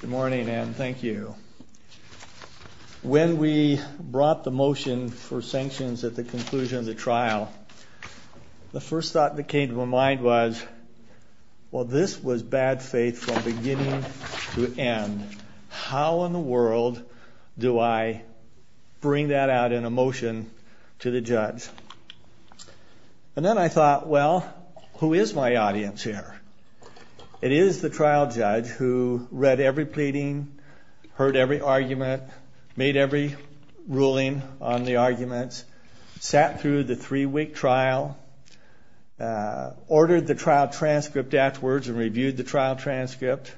Good morning and thank you. When we brought the motion for sanctions at the conclusion of the trial, the first thought that came to my mind was, well this was bad faith from beginning to end. How in the world do I bring that out in a motion to the judge? And then I thought, well who is my audience here? It is the trial judge who read every pleading, heard every argument, made every ruling on the arguments, sat through the three-week trial, ordered the trial transcript afterwards and reviewed the trial transcript,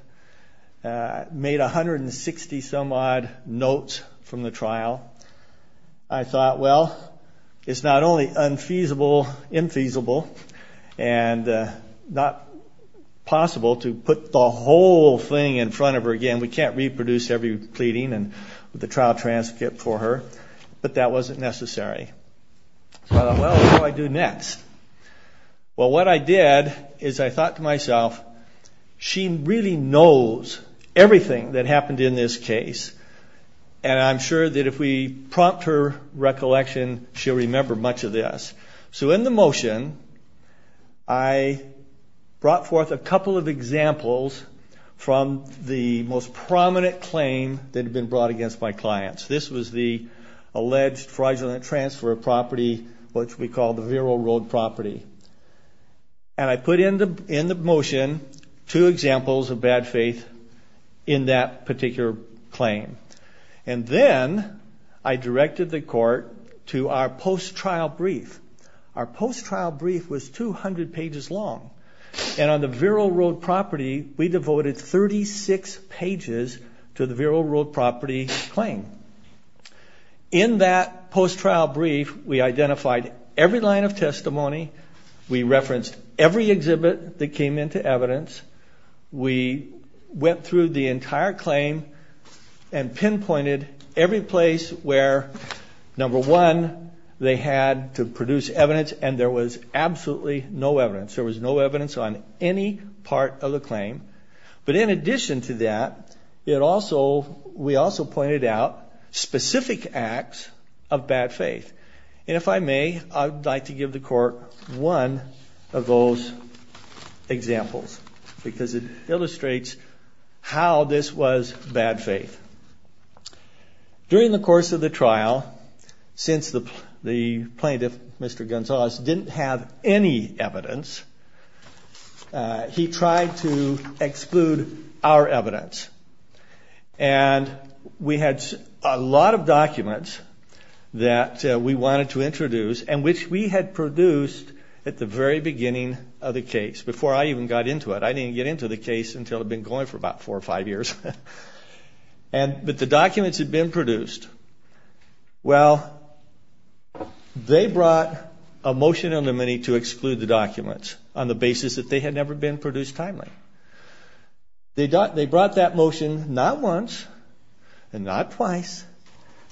made a hundred and sixty some odd notes from the trial. I thought, well it's not only unfeasible, infeasible, and not possible to put the whole thing in front of her again. We can't reproduce every pleading and the trial transcript for her, but that wasn't necessary. So I thought, well what do I do next? Well what I did is I thought to myself, she really knows everything that happened in this case and I'm sure that if we prompt her recollection she'll remember much of this. So in the motion I brought forth a couple of examples from the most prominent claim that had been brought against my clients. This was the alleged fraudulent transfer of property, which we call the Vero Road property. And I put in the motion two examples of bad faith in that particular claim. And then I directed the court to our post-trial brief. Our post-trial brief was 200 pages long and on the Vero Road property we devoted 36 pages to the Vero Road property claim. In that post-trial brief we identified every line of testimony, we referenced every exhibit that came into evidence, we went through the entire claim and pinpointed every place where number one, they had to produce evidence and there was absolutely no evidence. There was no evidence on any part of the claim. But in addition to that, we also pointed out specific acts of bad faith. And if I may, I'd like to give the court one of those examples because it illustrates how this was bad faith. During the course of the trial, since the the plaintiff, Mr. Gonzales, didn't have any evidence, he tried to exclude our evidence. And we had a lot of documents that we wanted to introduce and which we had produced at the very beginning of the case, before I even got into it. I didn't get into the case until I'd been going for about four or five years. But the documents had been produced. Well, they brought a motion under many to exclude the documents on the basis that they had never been produced timely. They brought that motion not once and not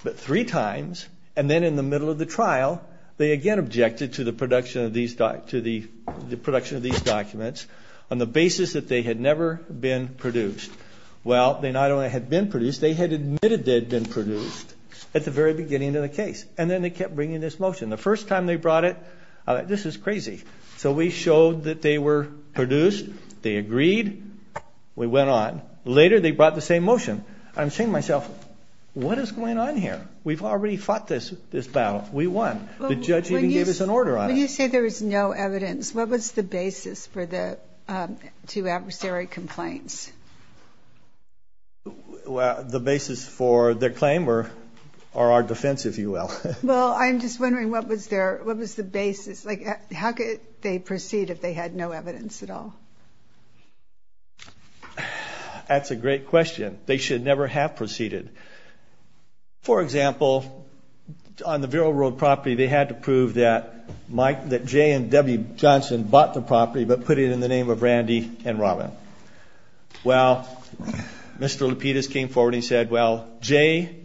three times. And then in the middle of the trial, they again objected to the production of these documents on the basis that they had never been produced. Well, they not only had been produced, they had admitted they had been produced at the very beginning of the case. And then they kept bringing this motion. The first time they brought it, I thought, this is crazy. So we showed that they were produced. They agreed. We went on. Later, they brought the same motion. I'm saying to myself, what is going on here? We've already fought this battle. We won. The judge even gave us an order on it. When you say there is no evidence, what was the basis for the two adversary complaints? The basis for their claim or our defense, if you will. Well, I'm just wondering what was the basis? How could they proceed if they had no evidence at all? That's a great question. They should never have proceeded. For example, on the Vero Road property, they had to prove that Jay and Debbie Johnson bought the property but put it in the name of Randy and Robin. Well, Mr. Lapidus came forward and he said, well, Jay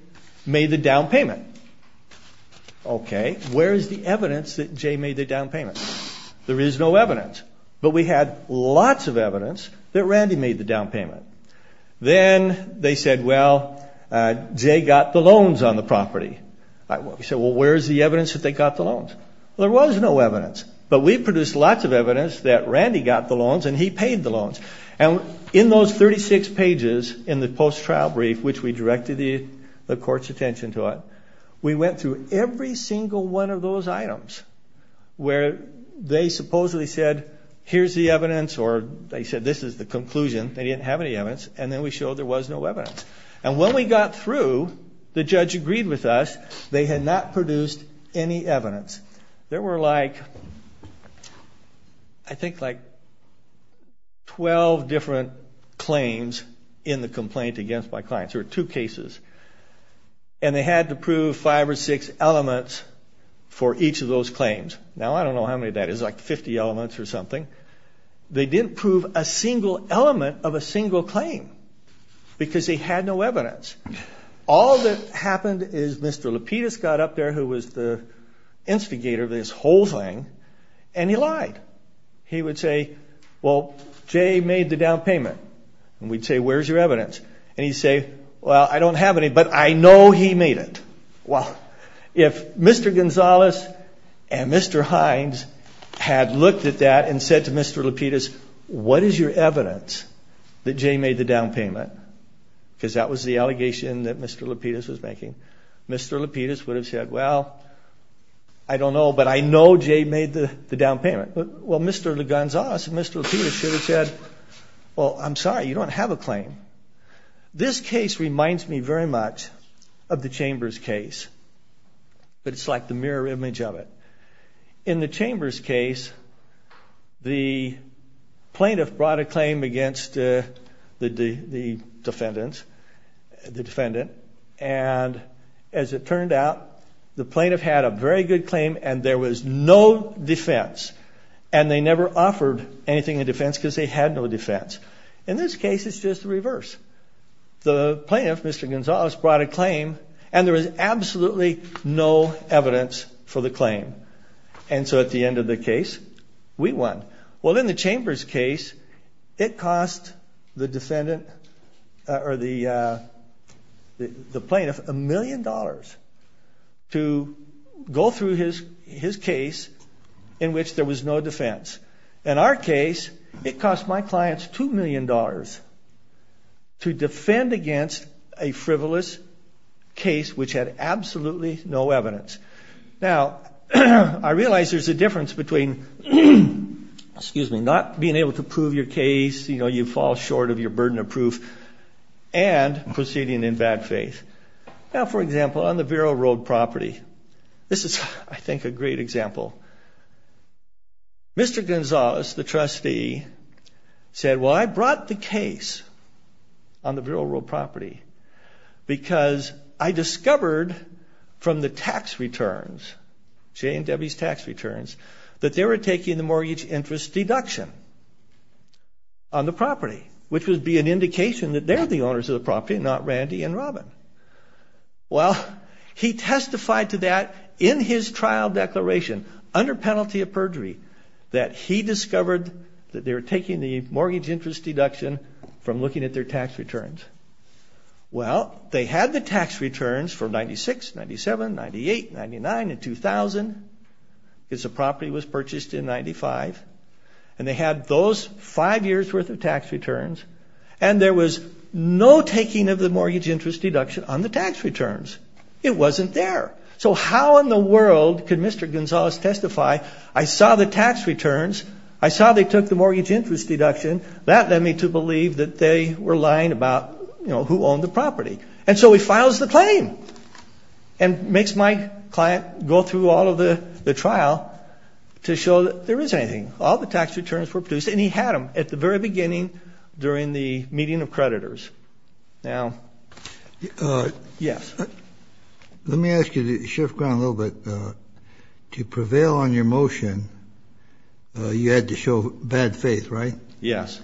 made the down payment. Okay, where is the evidence that Randy made the down payment? Then they said, well, Jay got the loans on the property. We said, well, where is the evidence that they got the loans? There was no evidence. But we produced lots of evidence that Randy got the loans and he paid the loans. And in those 36 pages in the post-trial brief, which we directed the court's attention to it, we went through every single one of those items where they supposedly said, here's the evidence, or they said, this is the conclusion. They didn't have any evidence. And then we showed there was no evidence. And when we got through, the judge agreed with us. They had not produced any evidence. There were like, I think like 12 different claims in the complaint against my clients. There were two cases. And they had to prove five or six elements for each of those claims. Now, I don't know how many that is, like 50 elements or something. They didn't prove a single element of a single claim because they had no evidence. All that happened is Mr. Lapidus got up there, who was the instigator of this whole thing, and he lied. He would say, well, Jay made the down payment. And we'd say, where's your evidence? And he'd say, well, I don't have any, but I know he made it. Well, if Mr. Gonzalez and Mr. Hines had looked at that and said to Mr. Lapidus, what is your evidence that Jay made the down payment? Because that was the allegation that Mr. Lapidus was making. Mr. Lapidus would have said, well, I don't know, but I know Jay made the down payment. Well, Mr. Gonzalez and Mr. Lapidus should have said, well, I'm sorry, you don't have a claim. This case reminds me very much of the Chambers case, but it's like the mirror image of it. In the Chambers case, the plaintiff brought a claim against the defendant. And as it turned out, the plaintiff had a very good defense, and they never offered anything in defense because they had no defense. In this case, it's just the reverse. The plaintiff, Mr. Gonzalez, brought a claim, and there was absolutely no evidence for the claim. And so at the end of the case, we won. Well, in the Chambers case, it cost the defendant, or the plaintiff, a million dollars to go through his case in which there was no defense. In our case, it cost my clients $2 million to defend against a frivolous case which had absolutely no evidence. Now, I realize there's a difference between not being able to prove your case, you know, you fall short of your burden of proof, and proceeding in bad faith. Now, for example, on the Vero Road property, this is, I think, a great example. Mr. Gonzalez, the trustee, said, well, I brought the case on the Vero Road property because I discovered from the tax returns, Jay and Debbie's tax returns, that they were taking the mortgage interest deduction on the property, which would be an indication that they're the owners of the property and not Randy and Robin. Well, he testified to that in his trial declaration under penalty of perjury, that he discovered that they were taking the mortgage interest deduction from looking at their tax returns. Well, they had the tax returns for 96, 97, 98, 99, and 2000, because the property was purchased in 95, and they had those five years' worth of tax returns, and there was no taking of the mortgage interest deduction on the tax returns. It wasn't there. So how in the world could Mr. Gonzalez testify, I saw the tax returns, I saw they took the mortgage interest deduction, that led me to believe that they were lying about, you know, who owned the property. And so he files the claim and makes my client go through all of the trial to show that there isn't anything. All the tax returns were produced, and he had them at the very beginning during the meeting of creditors. Now, yes. Let me ask you to shift ground a little bit. To prevail on your motion, you had to show bad faith, right? Yes.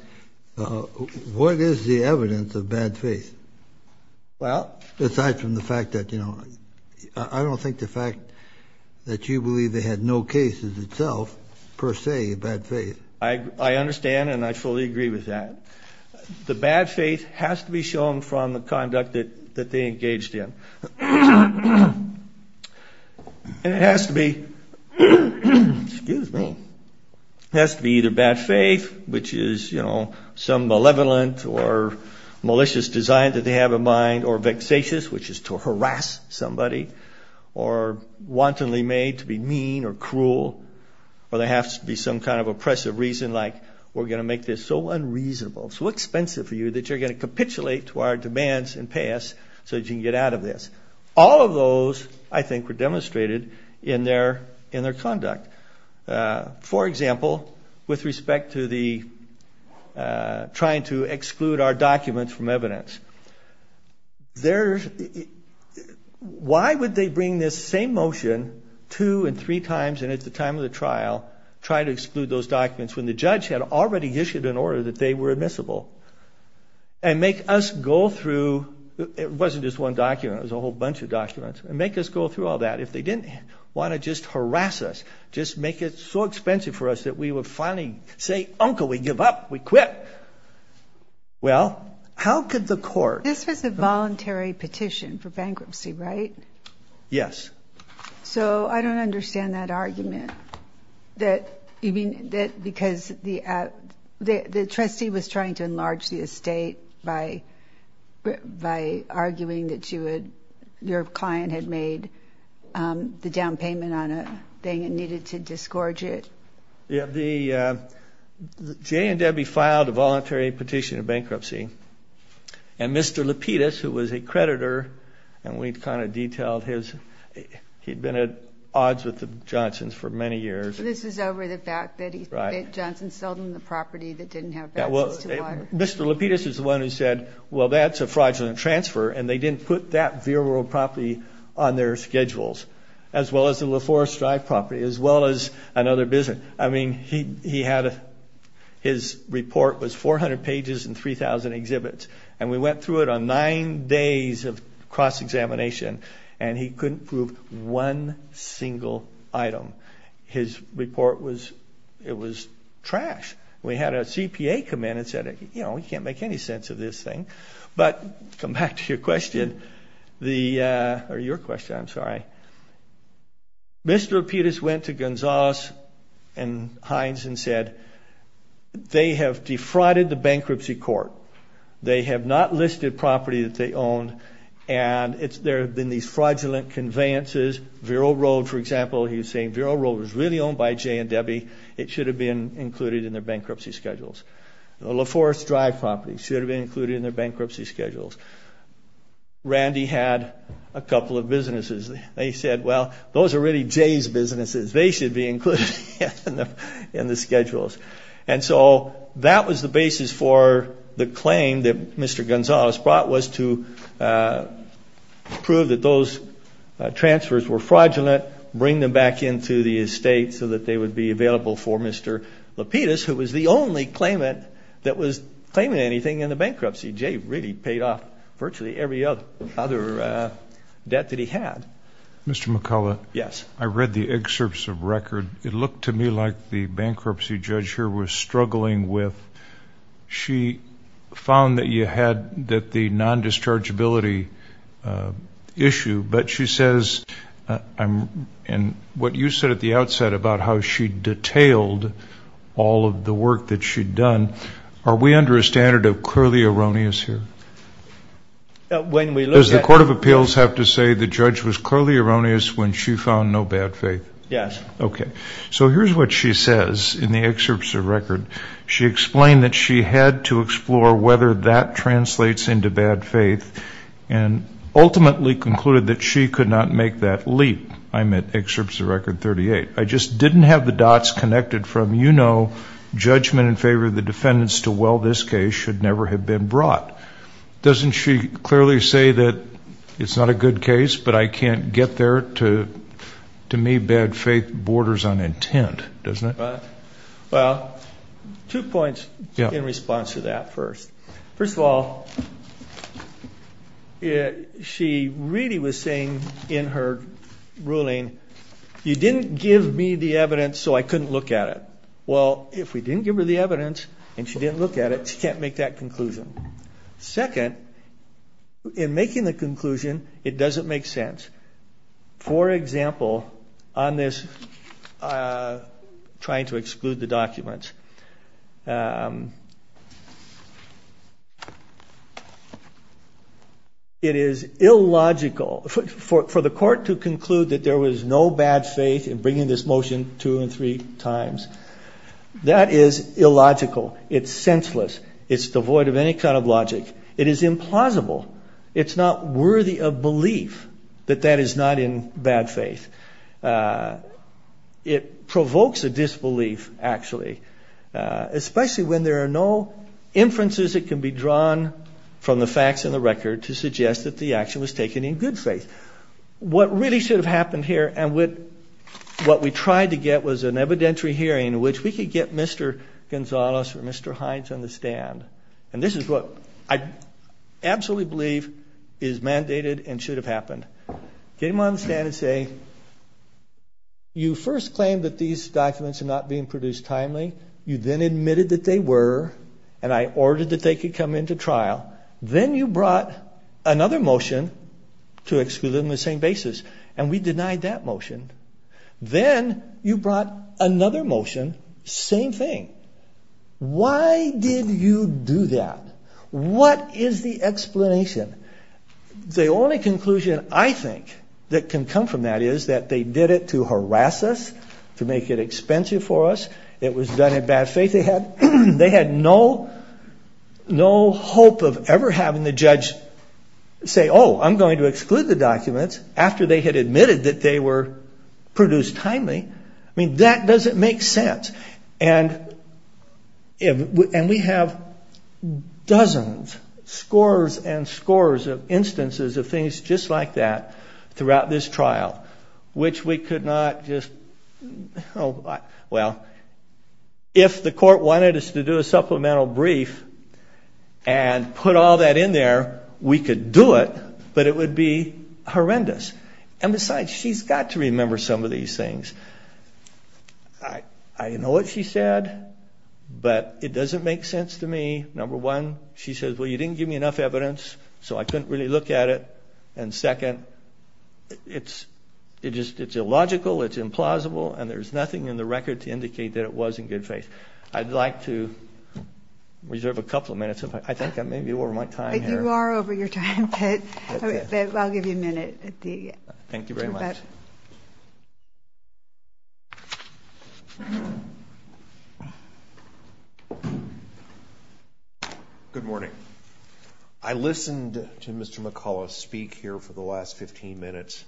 What is the evidence of bad faith? Well... Aside from the fact that, you know, I don't think the fact that you believe they had no cases itself, per se, bad faith. I understand, and I fully agree with that. The bad faith has to be shown from the conduct that they engaged in. And it has to be, excuse me, it has to be either bad faith, which is, you know, some malevolent or malicious design that they have in mind, or vexatious, which is to harass somebody, or wantonly made to be mean or cruel, or there has to be some kind of oppressive reason like, we're going to make this so unreasonable, so expensive for you that you're going to capitulate to our demands and pay us so that you can get out of this. All of those, I think, were demonstrated in their conduct. For example, with respect to the trying to exclude our documents from evidence. Why would they bring this same motion two and three times, and at the time of the trial, try to exclude those documents when the judge had already issued an order that they were admissible, and make us go through, it wasn't just one document, it was a whole bunch of documents, and make us go through all that if they didn't want to just harass us, just make it so expensive for us that we would finally say, uncle, we give up, we quit. Well, how could the court... This was a voluntary petition for bankruptcy, right? Yes. So, I don't understand that argument, because the trustee was trying to enlarge the estate by arguing that your client had made the down payment on a thing and needed to disgorge it. Jay and Debbie filed a voluntary petition of bankruptcy, and Mr. Lapidus, who was a creditor, and we'd kind of detailed his... He'd been at odds with the Johnsons for many years. This is over the fact that Johnson sold them the property that didn't have benefits to water. Mr. Lapidus is the one who said, well, that's a fraudulent transfer, and they didn't put that virile property on their schedules, as well as the LaForest Drive property, as well as another business. I mean, he had... His report was 400 pages and 3,000 exhibits, and we went through it on nine days of cross-examination, and he couldn't prove one single item. His report was... It was trash. We had a CPA come in and said, you know, we can't make any sense of this thing. But, to come back to your question, the... Or your question, I'm sorry. Mr. Lapidus went to Gonzales and Hines and said, they have defrauded the bankruptcy court. They have not listed property that they owned, and it's... There have been these fraudulent conveyances. Vero Road, for example, he was saying Vero Road was really owned by Jay and Debbie. It should have been included in their bankruptcy schedules. The LaForest Drive property should have been included in their They said, well, those are really Jay's businesses. They should be included in the schedules. And so, that was the basis for the claim that Mr. Gonzales brought was to prove that those transfers were fraudulent, bring them back into the estate so that they would be available for Mr. Lapidus, who was the only claimant that was claiming anything in the bankruptcy. Jay really paid off virtually every other debt that he had. Mr. McCullough. Yes. I read the excerpts of record. It looked to me like the bankruptcy judge here was struggling with... She found that you had that the non-dischargeability issue, but she says... And what you said at the outset about how she detailed all of the work that she'd done, are we under a standard of clearly erroneous here? When we look at... Does the court of appeals have to say the judge was clearly erroneous when she found no bad faith? Yes. Okay. So, here's what she says in the excerpts of record. She explained that she had to explore whether that translates into bad faith and ultimately concluded that she could not make that leap. I'm at excerpts of record 38. I just didn't have the dots connected from, you know, judgment in favor of the defendants to, well, this case should never have been brought. Doesn't she clearly say that it's not a good case, but I can't get there to... To me, bad faith borders on intent, doesn't it? Well, two points in response to that first. First of all, she really was saying in her ruling, you didn't give me the evidence, so I couldn't look at it. Well, if we didn't give her the evidence and she didn't look at it, she can't make that conclusion. Second, in making the conclusion, it doesn't make sense. For example, on this trying to exclude the documents, it is illogical for the court to conclude that there was no bad faith in bringing this motion two and three times. That is illogical. It's senseless. It's devoid of any kind of logic. It is implausible. It's not worthy of belief that that is not in bad faith. It provokes a disbelief, actually, especially when there are no inferences that can be drawn from the facts in the record to suggest that the action was taken in good faith. What really should have happened here and what we tried to get was an evidentiary hearing in which we could get Mr. Gonzales or Mr. Hines on the stand. And this is what I absolutely believe is mandated and should have happened. Came on the stand and say, you first claimed that these documents are not being produced timely. You then admitted that they were, and I ordered that they could come into trial. Then you brought another motion to exclude them on the same basis, and we denied that motion. Then you brought another motion, same thing. Why did you do that? What is the explanation? The only conclusion I think that can come from that is that they did it to harass us, to make it expensive for us. It was done in bad faith. They had no hope of ever having the judge say, I'm going to exclude the documents after they had admitted that they were produced timely, I mean, that doesn't make sense. And we have dozens, scores and scores of instances of things just like that throughout this trial, which we could not just, well, if the court wanted us to do a supplemental brief, and put all that in there, we could do it, but it would be horrendous. And besides, she's got to remember some of these things. I know what she said, but it doesn't make sense to me. Number one, she says, well, you didn't give me enough evidence, so I couldn't really look at it. And second, it's illogical, it's implausible, and there's nothing in the record to indicate that it was in good faith. I'd like to reserve a couple of minutes, I think I may be over my time here. You are over your time, but I'll give you a minute. Thank you very much. Good morning. I listened to Mr. McCullough speak here for the last 15 minutes,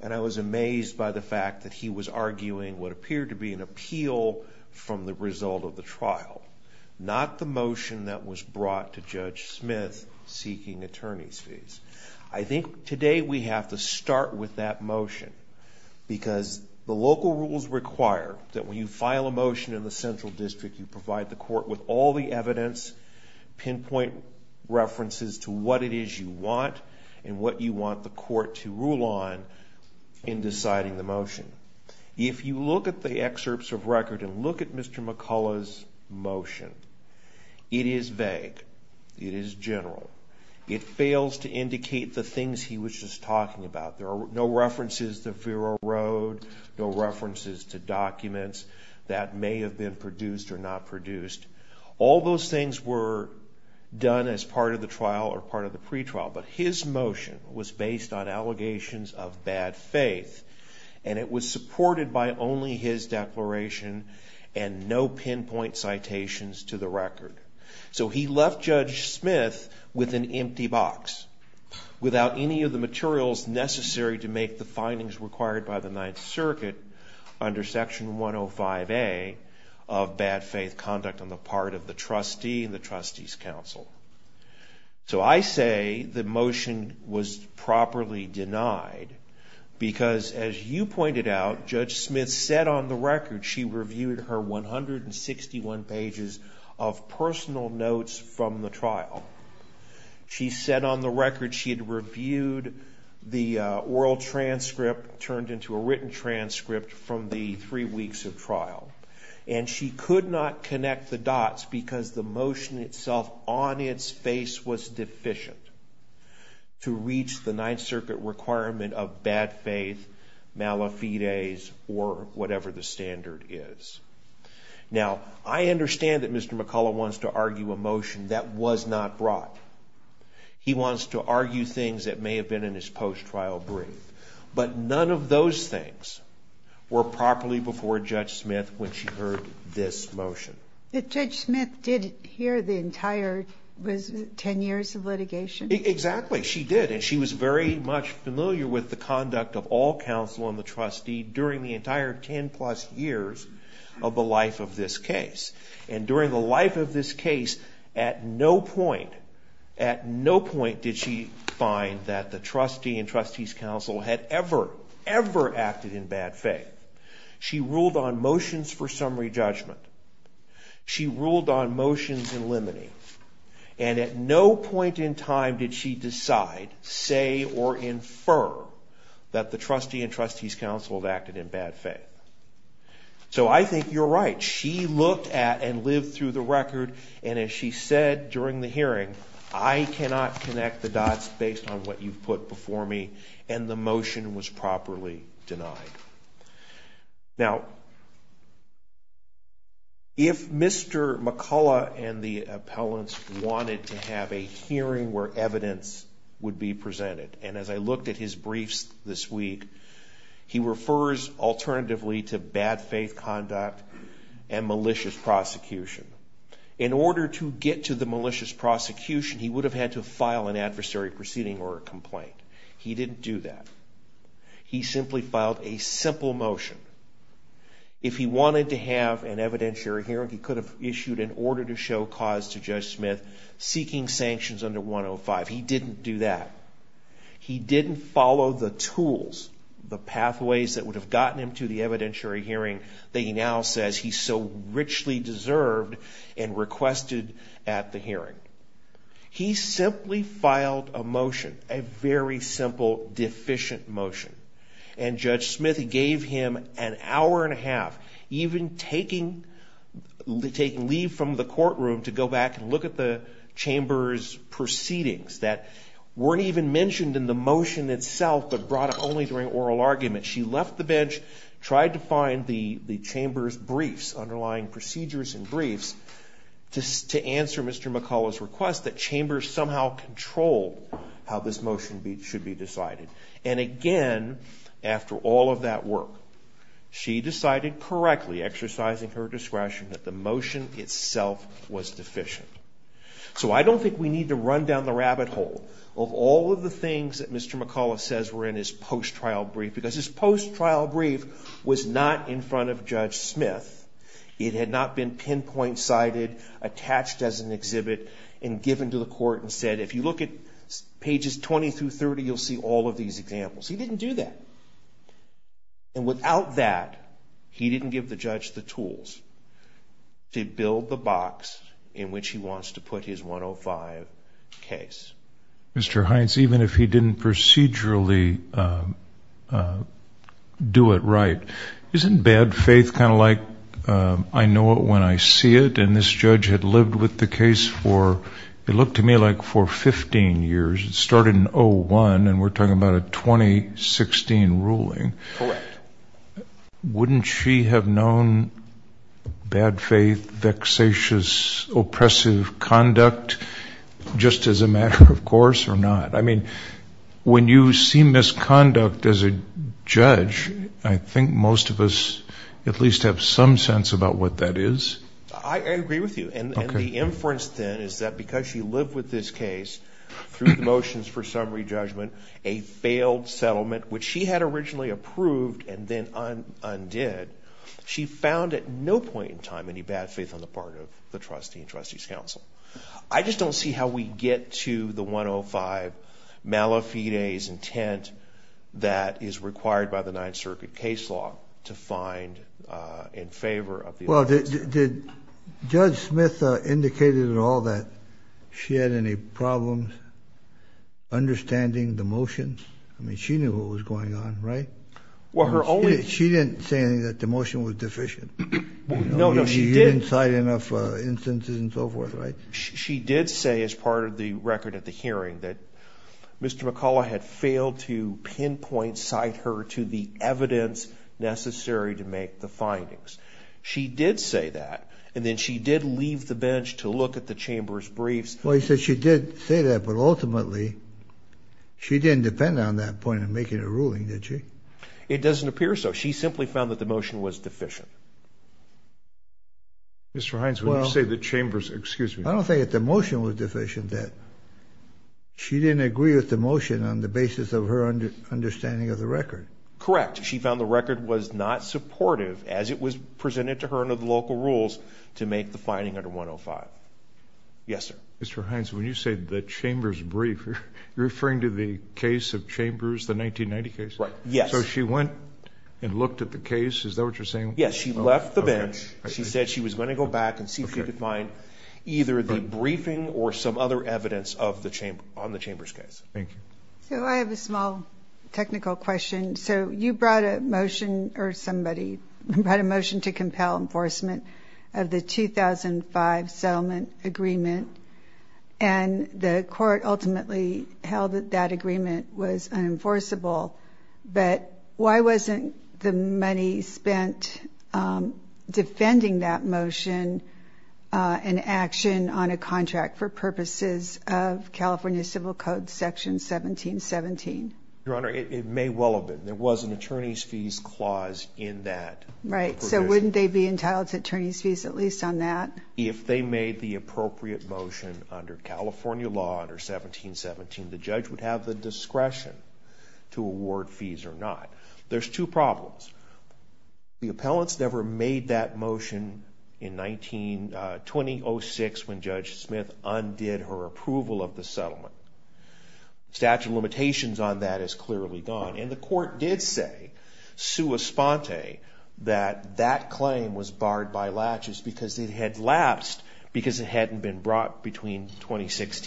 and I was amazed by the fact that he was arguing what appeared to be an appeal from the result of the trial, not the motion that was brought to Judge Smith seeking attorney's fees. I think today we have to start with that motion, because the local rules require that when you file a motion in the central district, you provide the court with all the evidence, pinpoint references to what it is you want, and what you want the court to rule on in deciding the motion. If you look at the excerpts of record and look at Mr. McCullough's motion, it is vague, it is general. It fails to indicate the things he was just talking about. There are no references to Vero Road, no references to documents that may have been produced or not produced. All those things were done as part of the trial or part of the pretrial, but his motion was based on allegations of bad faith, and it was supported by only his declaration and no pinpoint citations to the record. So he left Judge Smith with an empty box, without any of the materials necessary to make the findings required by the Ninth Circuit under Section 105A of bad faith conduct on the part of the trustee and the trustee's counsel. So I say the motion was properly denied, because as you pointed out, Judge Smith said on the record she reviewed her 161 pages of personal notes from the trial. She said on the record she had reviewed the oral transcript, turned into a written transcript from the three weeks of trial, and she could not connect the dots because the motion itself on its face was deficient to reach the Ninth Circuit requirement of bad faith, malafides, or whatever the standard is. Now, I understand that Mr. McCullough wants to argue a motion that was not brought. He wants to argue things that may have been in his post-trial brief, but none of those things were properly before Judge Smith when she heard this motion. But Judge Smith did hear the entire 10 years of litigation? Exactly. She did, and she was very much familiar with the conduct of all counsel and the trustee during the entire 10 plus years of the life of this case. And during the life of this case, at no point did she find that the trustee and trustees counsel had ever, ever acted in bad faith. She ruled on motions for summary judgment. She ruled on motions in limine. And at no point in time did she decide, say, or infer that the trustee and trustees counsel had acted in bad faith. So I think you're right. She looked at and lived through the record, and as she said during the hearing, I cannot connect the dots based on what you've put before me, and the motion was properly denied. Now, if Mr. McCullough and the appellants wanted to have a hearing where evidence would be presented, and as I looked at his briefs this week, he refers alternatively to bad faith conduct and malicious prosecution. In order to get to the malicious prosecution, he would have had to file an adversary proceeding or a complaint. He didn't do that. He simply filed a simple motion. If he wanted to have an evidentiary hearing, he could have issued an order to show cause to Judge Smith seeking sanctions under 105. He didn't do that. He didn't follow the tools, the pathways that would have gotten him to the evidentiary hearing that he now says he so richly deserved and requested at the hearing. He simply filed a motion, a very simple deficient motion, and Judge Smith gave him an hour and a half, even taking leave from the courtroom to go back and look at the chamber's proceedings that weren't even mentioned in the motion itself but brought up only during oral argument. She left the bench, tried to find the chamber's briefs, underlying procedures and briefs, to answer Mr. McCullough's request that chambers somehow control how this motion should be decided. And again, after all of that work, she decided correctly, exercising her discretion, that the motion itself was deficient. So I don't think we need to run down the rabbit hole of all of the things that Mr. McCullough says were in his post-trial brief, because his post-trial brief was not in front of Judge Smith. It had not been pinpoint sighted, attached as an exhibit, and given to the court and said, if you look at pages 20 through 30, you'll see all of these examples. He didn't do that. And without that, he didn't give the judge the tools to build the box in which he wants to put his 105 case. Mr. Hines, even if he didn't procedurally do it right, isn't bad faith kind of like, I know it when I see it, and this judge had lived with the case for, it looked to me like for 15 years. It started in 01, and we're talking about a 2016 ruling. Correct. Wouldn't she have known bad faith, vexatious, oppressive conduct just as a matter of course or not? I mean, when you see misconduct as a judge, I think most of us at least have some sense about what that is. I agree with you. And the inference then is that because she lived with this case, through the motions for summary judgment, a failed settlement, which she had originally approved and then undid, she found at no point in time any bad faith on the part of the trustee and trustees council. I just don't see how we get to the 105 malefides intent that is required by the Ninth Circuit case law to find in favor of the other. Well, did Judge Smith indicated at all that she had any problems understanding the motions? I mean, she knew what was going on, right? Well, her only- She didn't say anything that the motion was deficient. No, no, she didn't. You didn't cite enough instances and so forth, right? She did say as part of the record at the hearing that Mr. McCullough had failed to pinpoint, cite her to the evidence necessary to make the findings. She did say that, and then she did leave the bench to look at the chamber's briefs. Well, you said she did say that, but ultimately, she didn't depend on that point in making a ruling, did she? It doesn't appear so. She simply found that the motion was deficient. Mr. Hines, when you say the chamber's- Excuse me. I don't think that the motion was deficient, that she didn't agree with the motion on the basis of her understanding of the record. Correct. She found the record was not supportive as it was presented to her under the local rules to make the finding under 105. Yes, sir. Mr. Hines, when you say the chamber's brief, you're referring to the case of Chambers, the 1990 case? Right, yes. So she went and looked at the case? Is that what you're saying? Yes, she left the bench. She said she was going to go back and see if she could find either the briefing or some other evidence on the Chamber's case. Thank you. So I have a small technical question. So you brought a motion, or somebody brought a motion to compel enforcement of the 2005 settlement agreement. And the court ultimately held that that agreement was unenforceable. But why wasn't the money spent defending that motion in action on a contract for purposes of California Civil Code Section 1717? Your Honor, it may well have been. There was an attorney's fees clause in that. Right, so wouldn't they be entitled to attorney's fees, at least on that? If they made the appropriate motion under California law under 1717, the judge would have the discretion to award fees or not. There's two problems. The appellants never made that motion in 2006 when Judge Smith undid her approval of the settlement. Statute of limitations on that is clearly gone. And the court did say, sua sponte, that that claim was barred by latches because it had lapsed because it hadn't been brought between 2006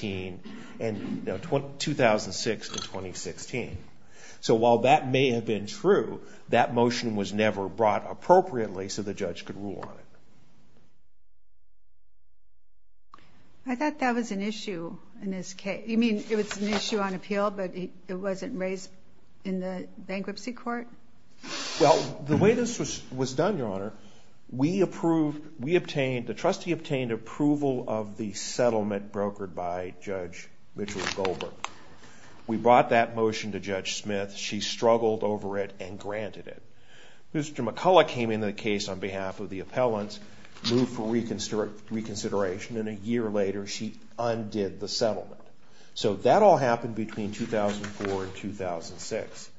and 2016. So while that may have been true, that motion was never brought appropriately so the judge could rule on it. I thought that was an issue in this case. You mean it was an issue on appeal, but it wasn't raised in the bankruptcy court? Well, the way this was done, Your Honor, the trustee obtained approval of the settlement brokered by Judge Mitchell Goldberg. We brought that motion to Judge Smith. She struggled over it and granted it. Mr. McCullough came into the case on behalf of the appellants, moved for reconsideration, and a year later she undid the settlement. So that all happened between 2004 and 2006.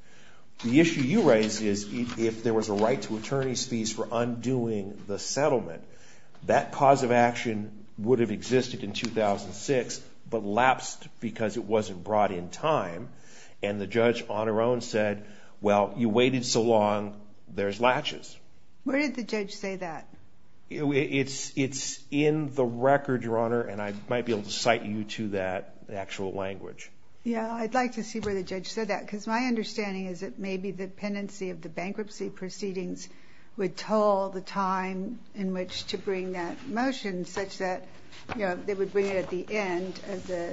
The issue you raise is if there was a right to attorney's fees for undoing the settlement, that cause of action would have existed in 2006 but lapsed because it wasn't brought in time. And the judge on her own said, well, you waited so long, there's latches. Where did the judge say that? It's in the record, Your Honor, and I might be able to cite you to that actual language. Yeah, I'd like to see where the judge said that. Because my understanding is that maybe the pendency of the bankruptcy proceedings would toll the time in which to bring that motion, such that they would bring it at the end of the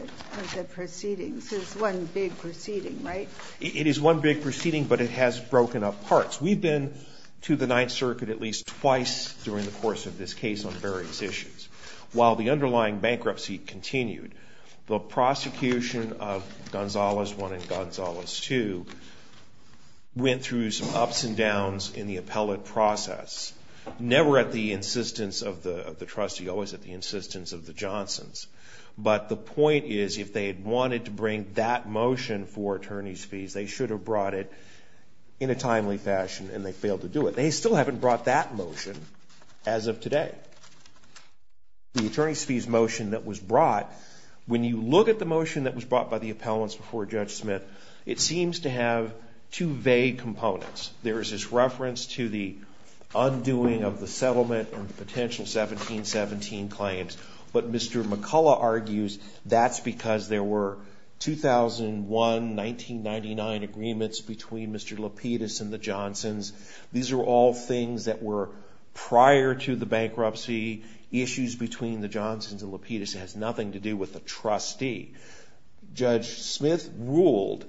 proceedings. It's one big proceeding, right? It is one big proceeding, but it has broken up parts. We've been to the Ninth Circuit at least twice during the course of this case on various issues. While the underlying bankruptcy continued, the prosecution of Gonzalez 1 and Gonzalez 2 went through some ups and downs in the appellate process, never at the insistence of the trustee, always at the insistence of the Johnsons. But the point is, if they had wanted to bring that motion for attorney's fees, they should have brought it in a timely fashion, and they failed to do it. They still haven't brought that motion as of today. The attorney's fees motion that was brought, when you look at the motion that was brought by the appellants before Judge Smith, it seems to have two vague components. There is this reference to the undoing of the settlement and potential 1717 claims. But Mr. McCullough argues that's because there were 2001-1999 agreements between Mr. Lapidus and the Johnsons. These are all things that were prior to the bankruptcy. Issues between the Johnsons and Lapidus has nothing to do with the trustee. Judge Smith ruled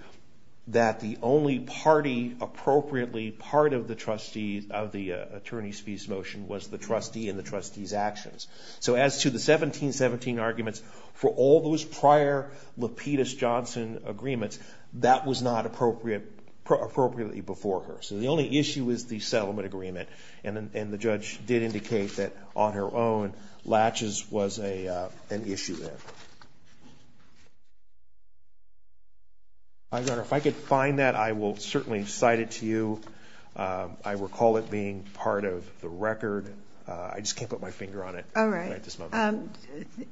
that the only party appropriately part of the trustee of the attorney's fees motion was the trustee and the trustee's actions. So as to the 1717 arguments, for all those prior Lapidus-Johnson agreements, that was not appropriately before her. So the only issue is the settlement agreement. And the judge did indicate that, on her own, latches was an issue there. If I could find that, I will certainly cite it to you. I recall it being part of the record. I just can't put my finger on it at this moment.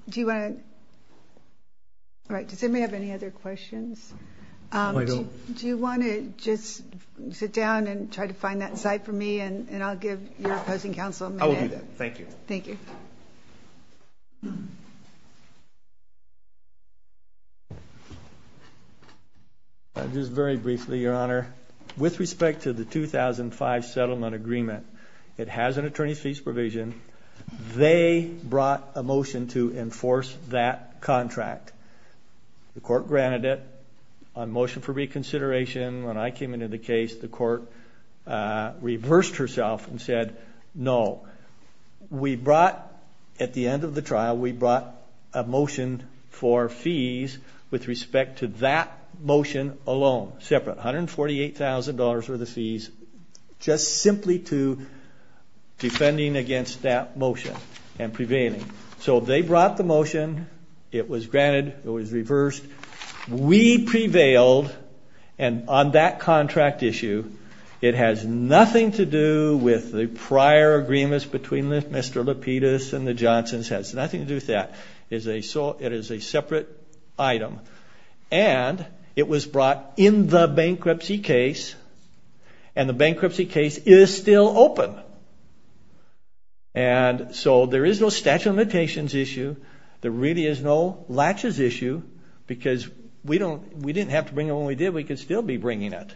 Do you want to? All right, does anybody have any other questions? I don't. Do you want to just sit down and try to find that site for me? And I'll give your opposing counsel a minute. I will do that. Thank you. Thank you. Just very briefly, Your Honor. With respect to the 2005 settlement agreement, it has an attorney's fees provision. They brought a motion to enforce that contract. The court granted it on motion for reconsideration. When I came into the case, the court reversed herself and said, no. We brought, at the end of the trial, we brought a motion for fees with respect to that motion alone, separate. $148,000 were the fees, just simply to defending against that motion and prevailing. So they brought the motion. It was granted. It was reversed. We prevailed. And on that contract issue, it has nothing to do with the prior agreements between Mr. Lapidus and the Johnsons. It has nothing to do with that. It is a separate item. And it was brought in the bankruptcy case. And the bankruptcy case is still open. And so there is no statute of limitations issue. There really is no latches issue, because we didn't have to bring it when we did. We could still be bringing it.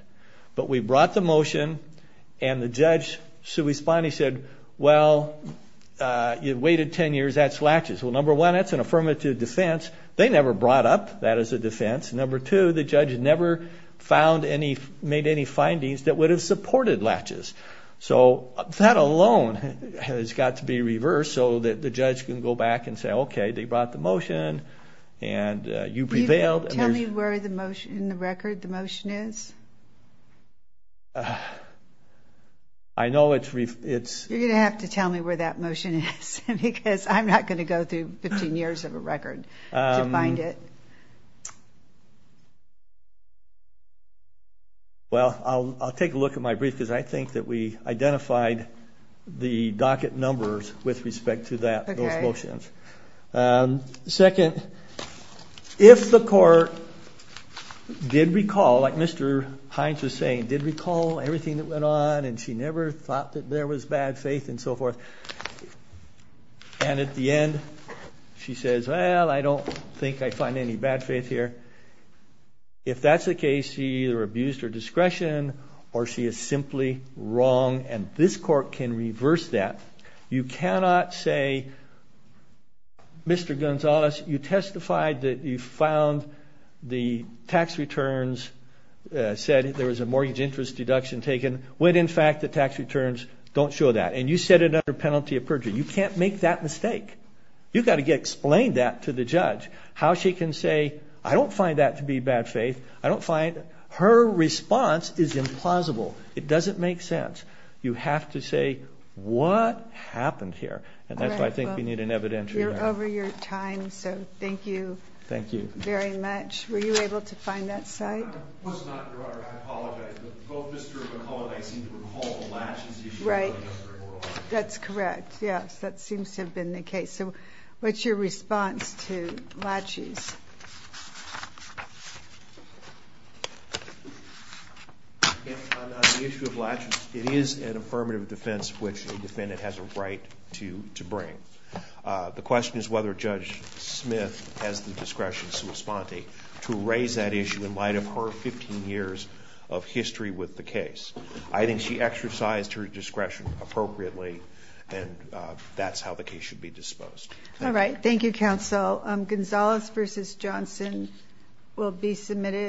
But we brought the motion. And the judge, Sui Spani, said, well, you waited 10 years. That's latches. Well, number one, that's an affirmative defense. They never brought up that as a defense. Number two, the judge never made any findings that would have supported latches. So that alone has got to be reversed, so that the judge can go back and say, OK, they brought the motion. And you prevailed. Can you tell me where in the record the motion is? I know it's referenced. You're going to have to tell me where that motion is, because I'm not going to go through 15 years of a record to find it. Well, I'll take a look at my brief, because I think that we identified the docket numbers with respect to those motions. Second, if the court did recall, like Mr. Hines was saying, did recall everything that went on, and she never thought that there was bad faith and so forth, and at the end, she says, well, I don't think I find any bad faith here. If that's the case, she either abused her discretion, or she is simply wrong. And this court can reverse that. You cannot say, Mr. Gonzalez, you testified that you found the tax returns said there was a mortgage interest deduction taken, when in fact the tax returns don't show that. And you said it under penalty of perjury. You can't make that mistake. You've got to explain that to the judge, how she can say, I don't find that to be bad faith. I don't find her response is implausible. It doesn't make sense. You have to say, what happened here? And that's why I think we need an evidentiary. You're over your time, so thank you. Thank you. Very much. Were you able to find that site? I was not, Your Honor. I apologize. But both Mr. McCullough and I seem to recall the latches issue. Right. That's correct, yes. That seems to have been the case. So what's your response to latches? Again, on the issue of latches, it is an affirmative defense, which a defendant has a right to bring. The question is whether Judge Smith has the discretion, sua sponte, to raise that issue in light of her 15 years of history with the case. I think she exercised her discretion appropriately, and that's how the case should be disposed. All right, thank you, counsel. Gonzales versus Johnson will be submitted.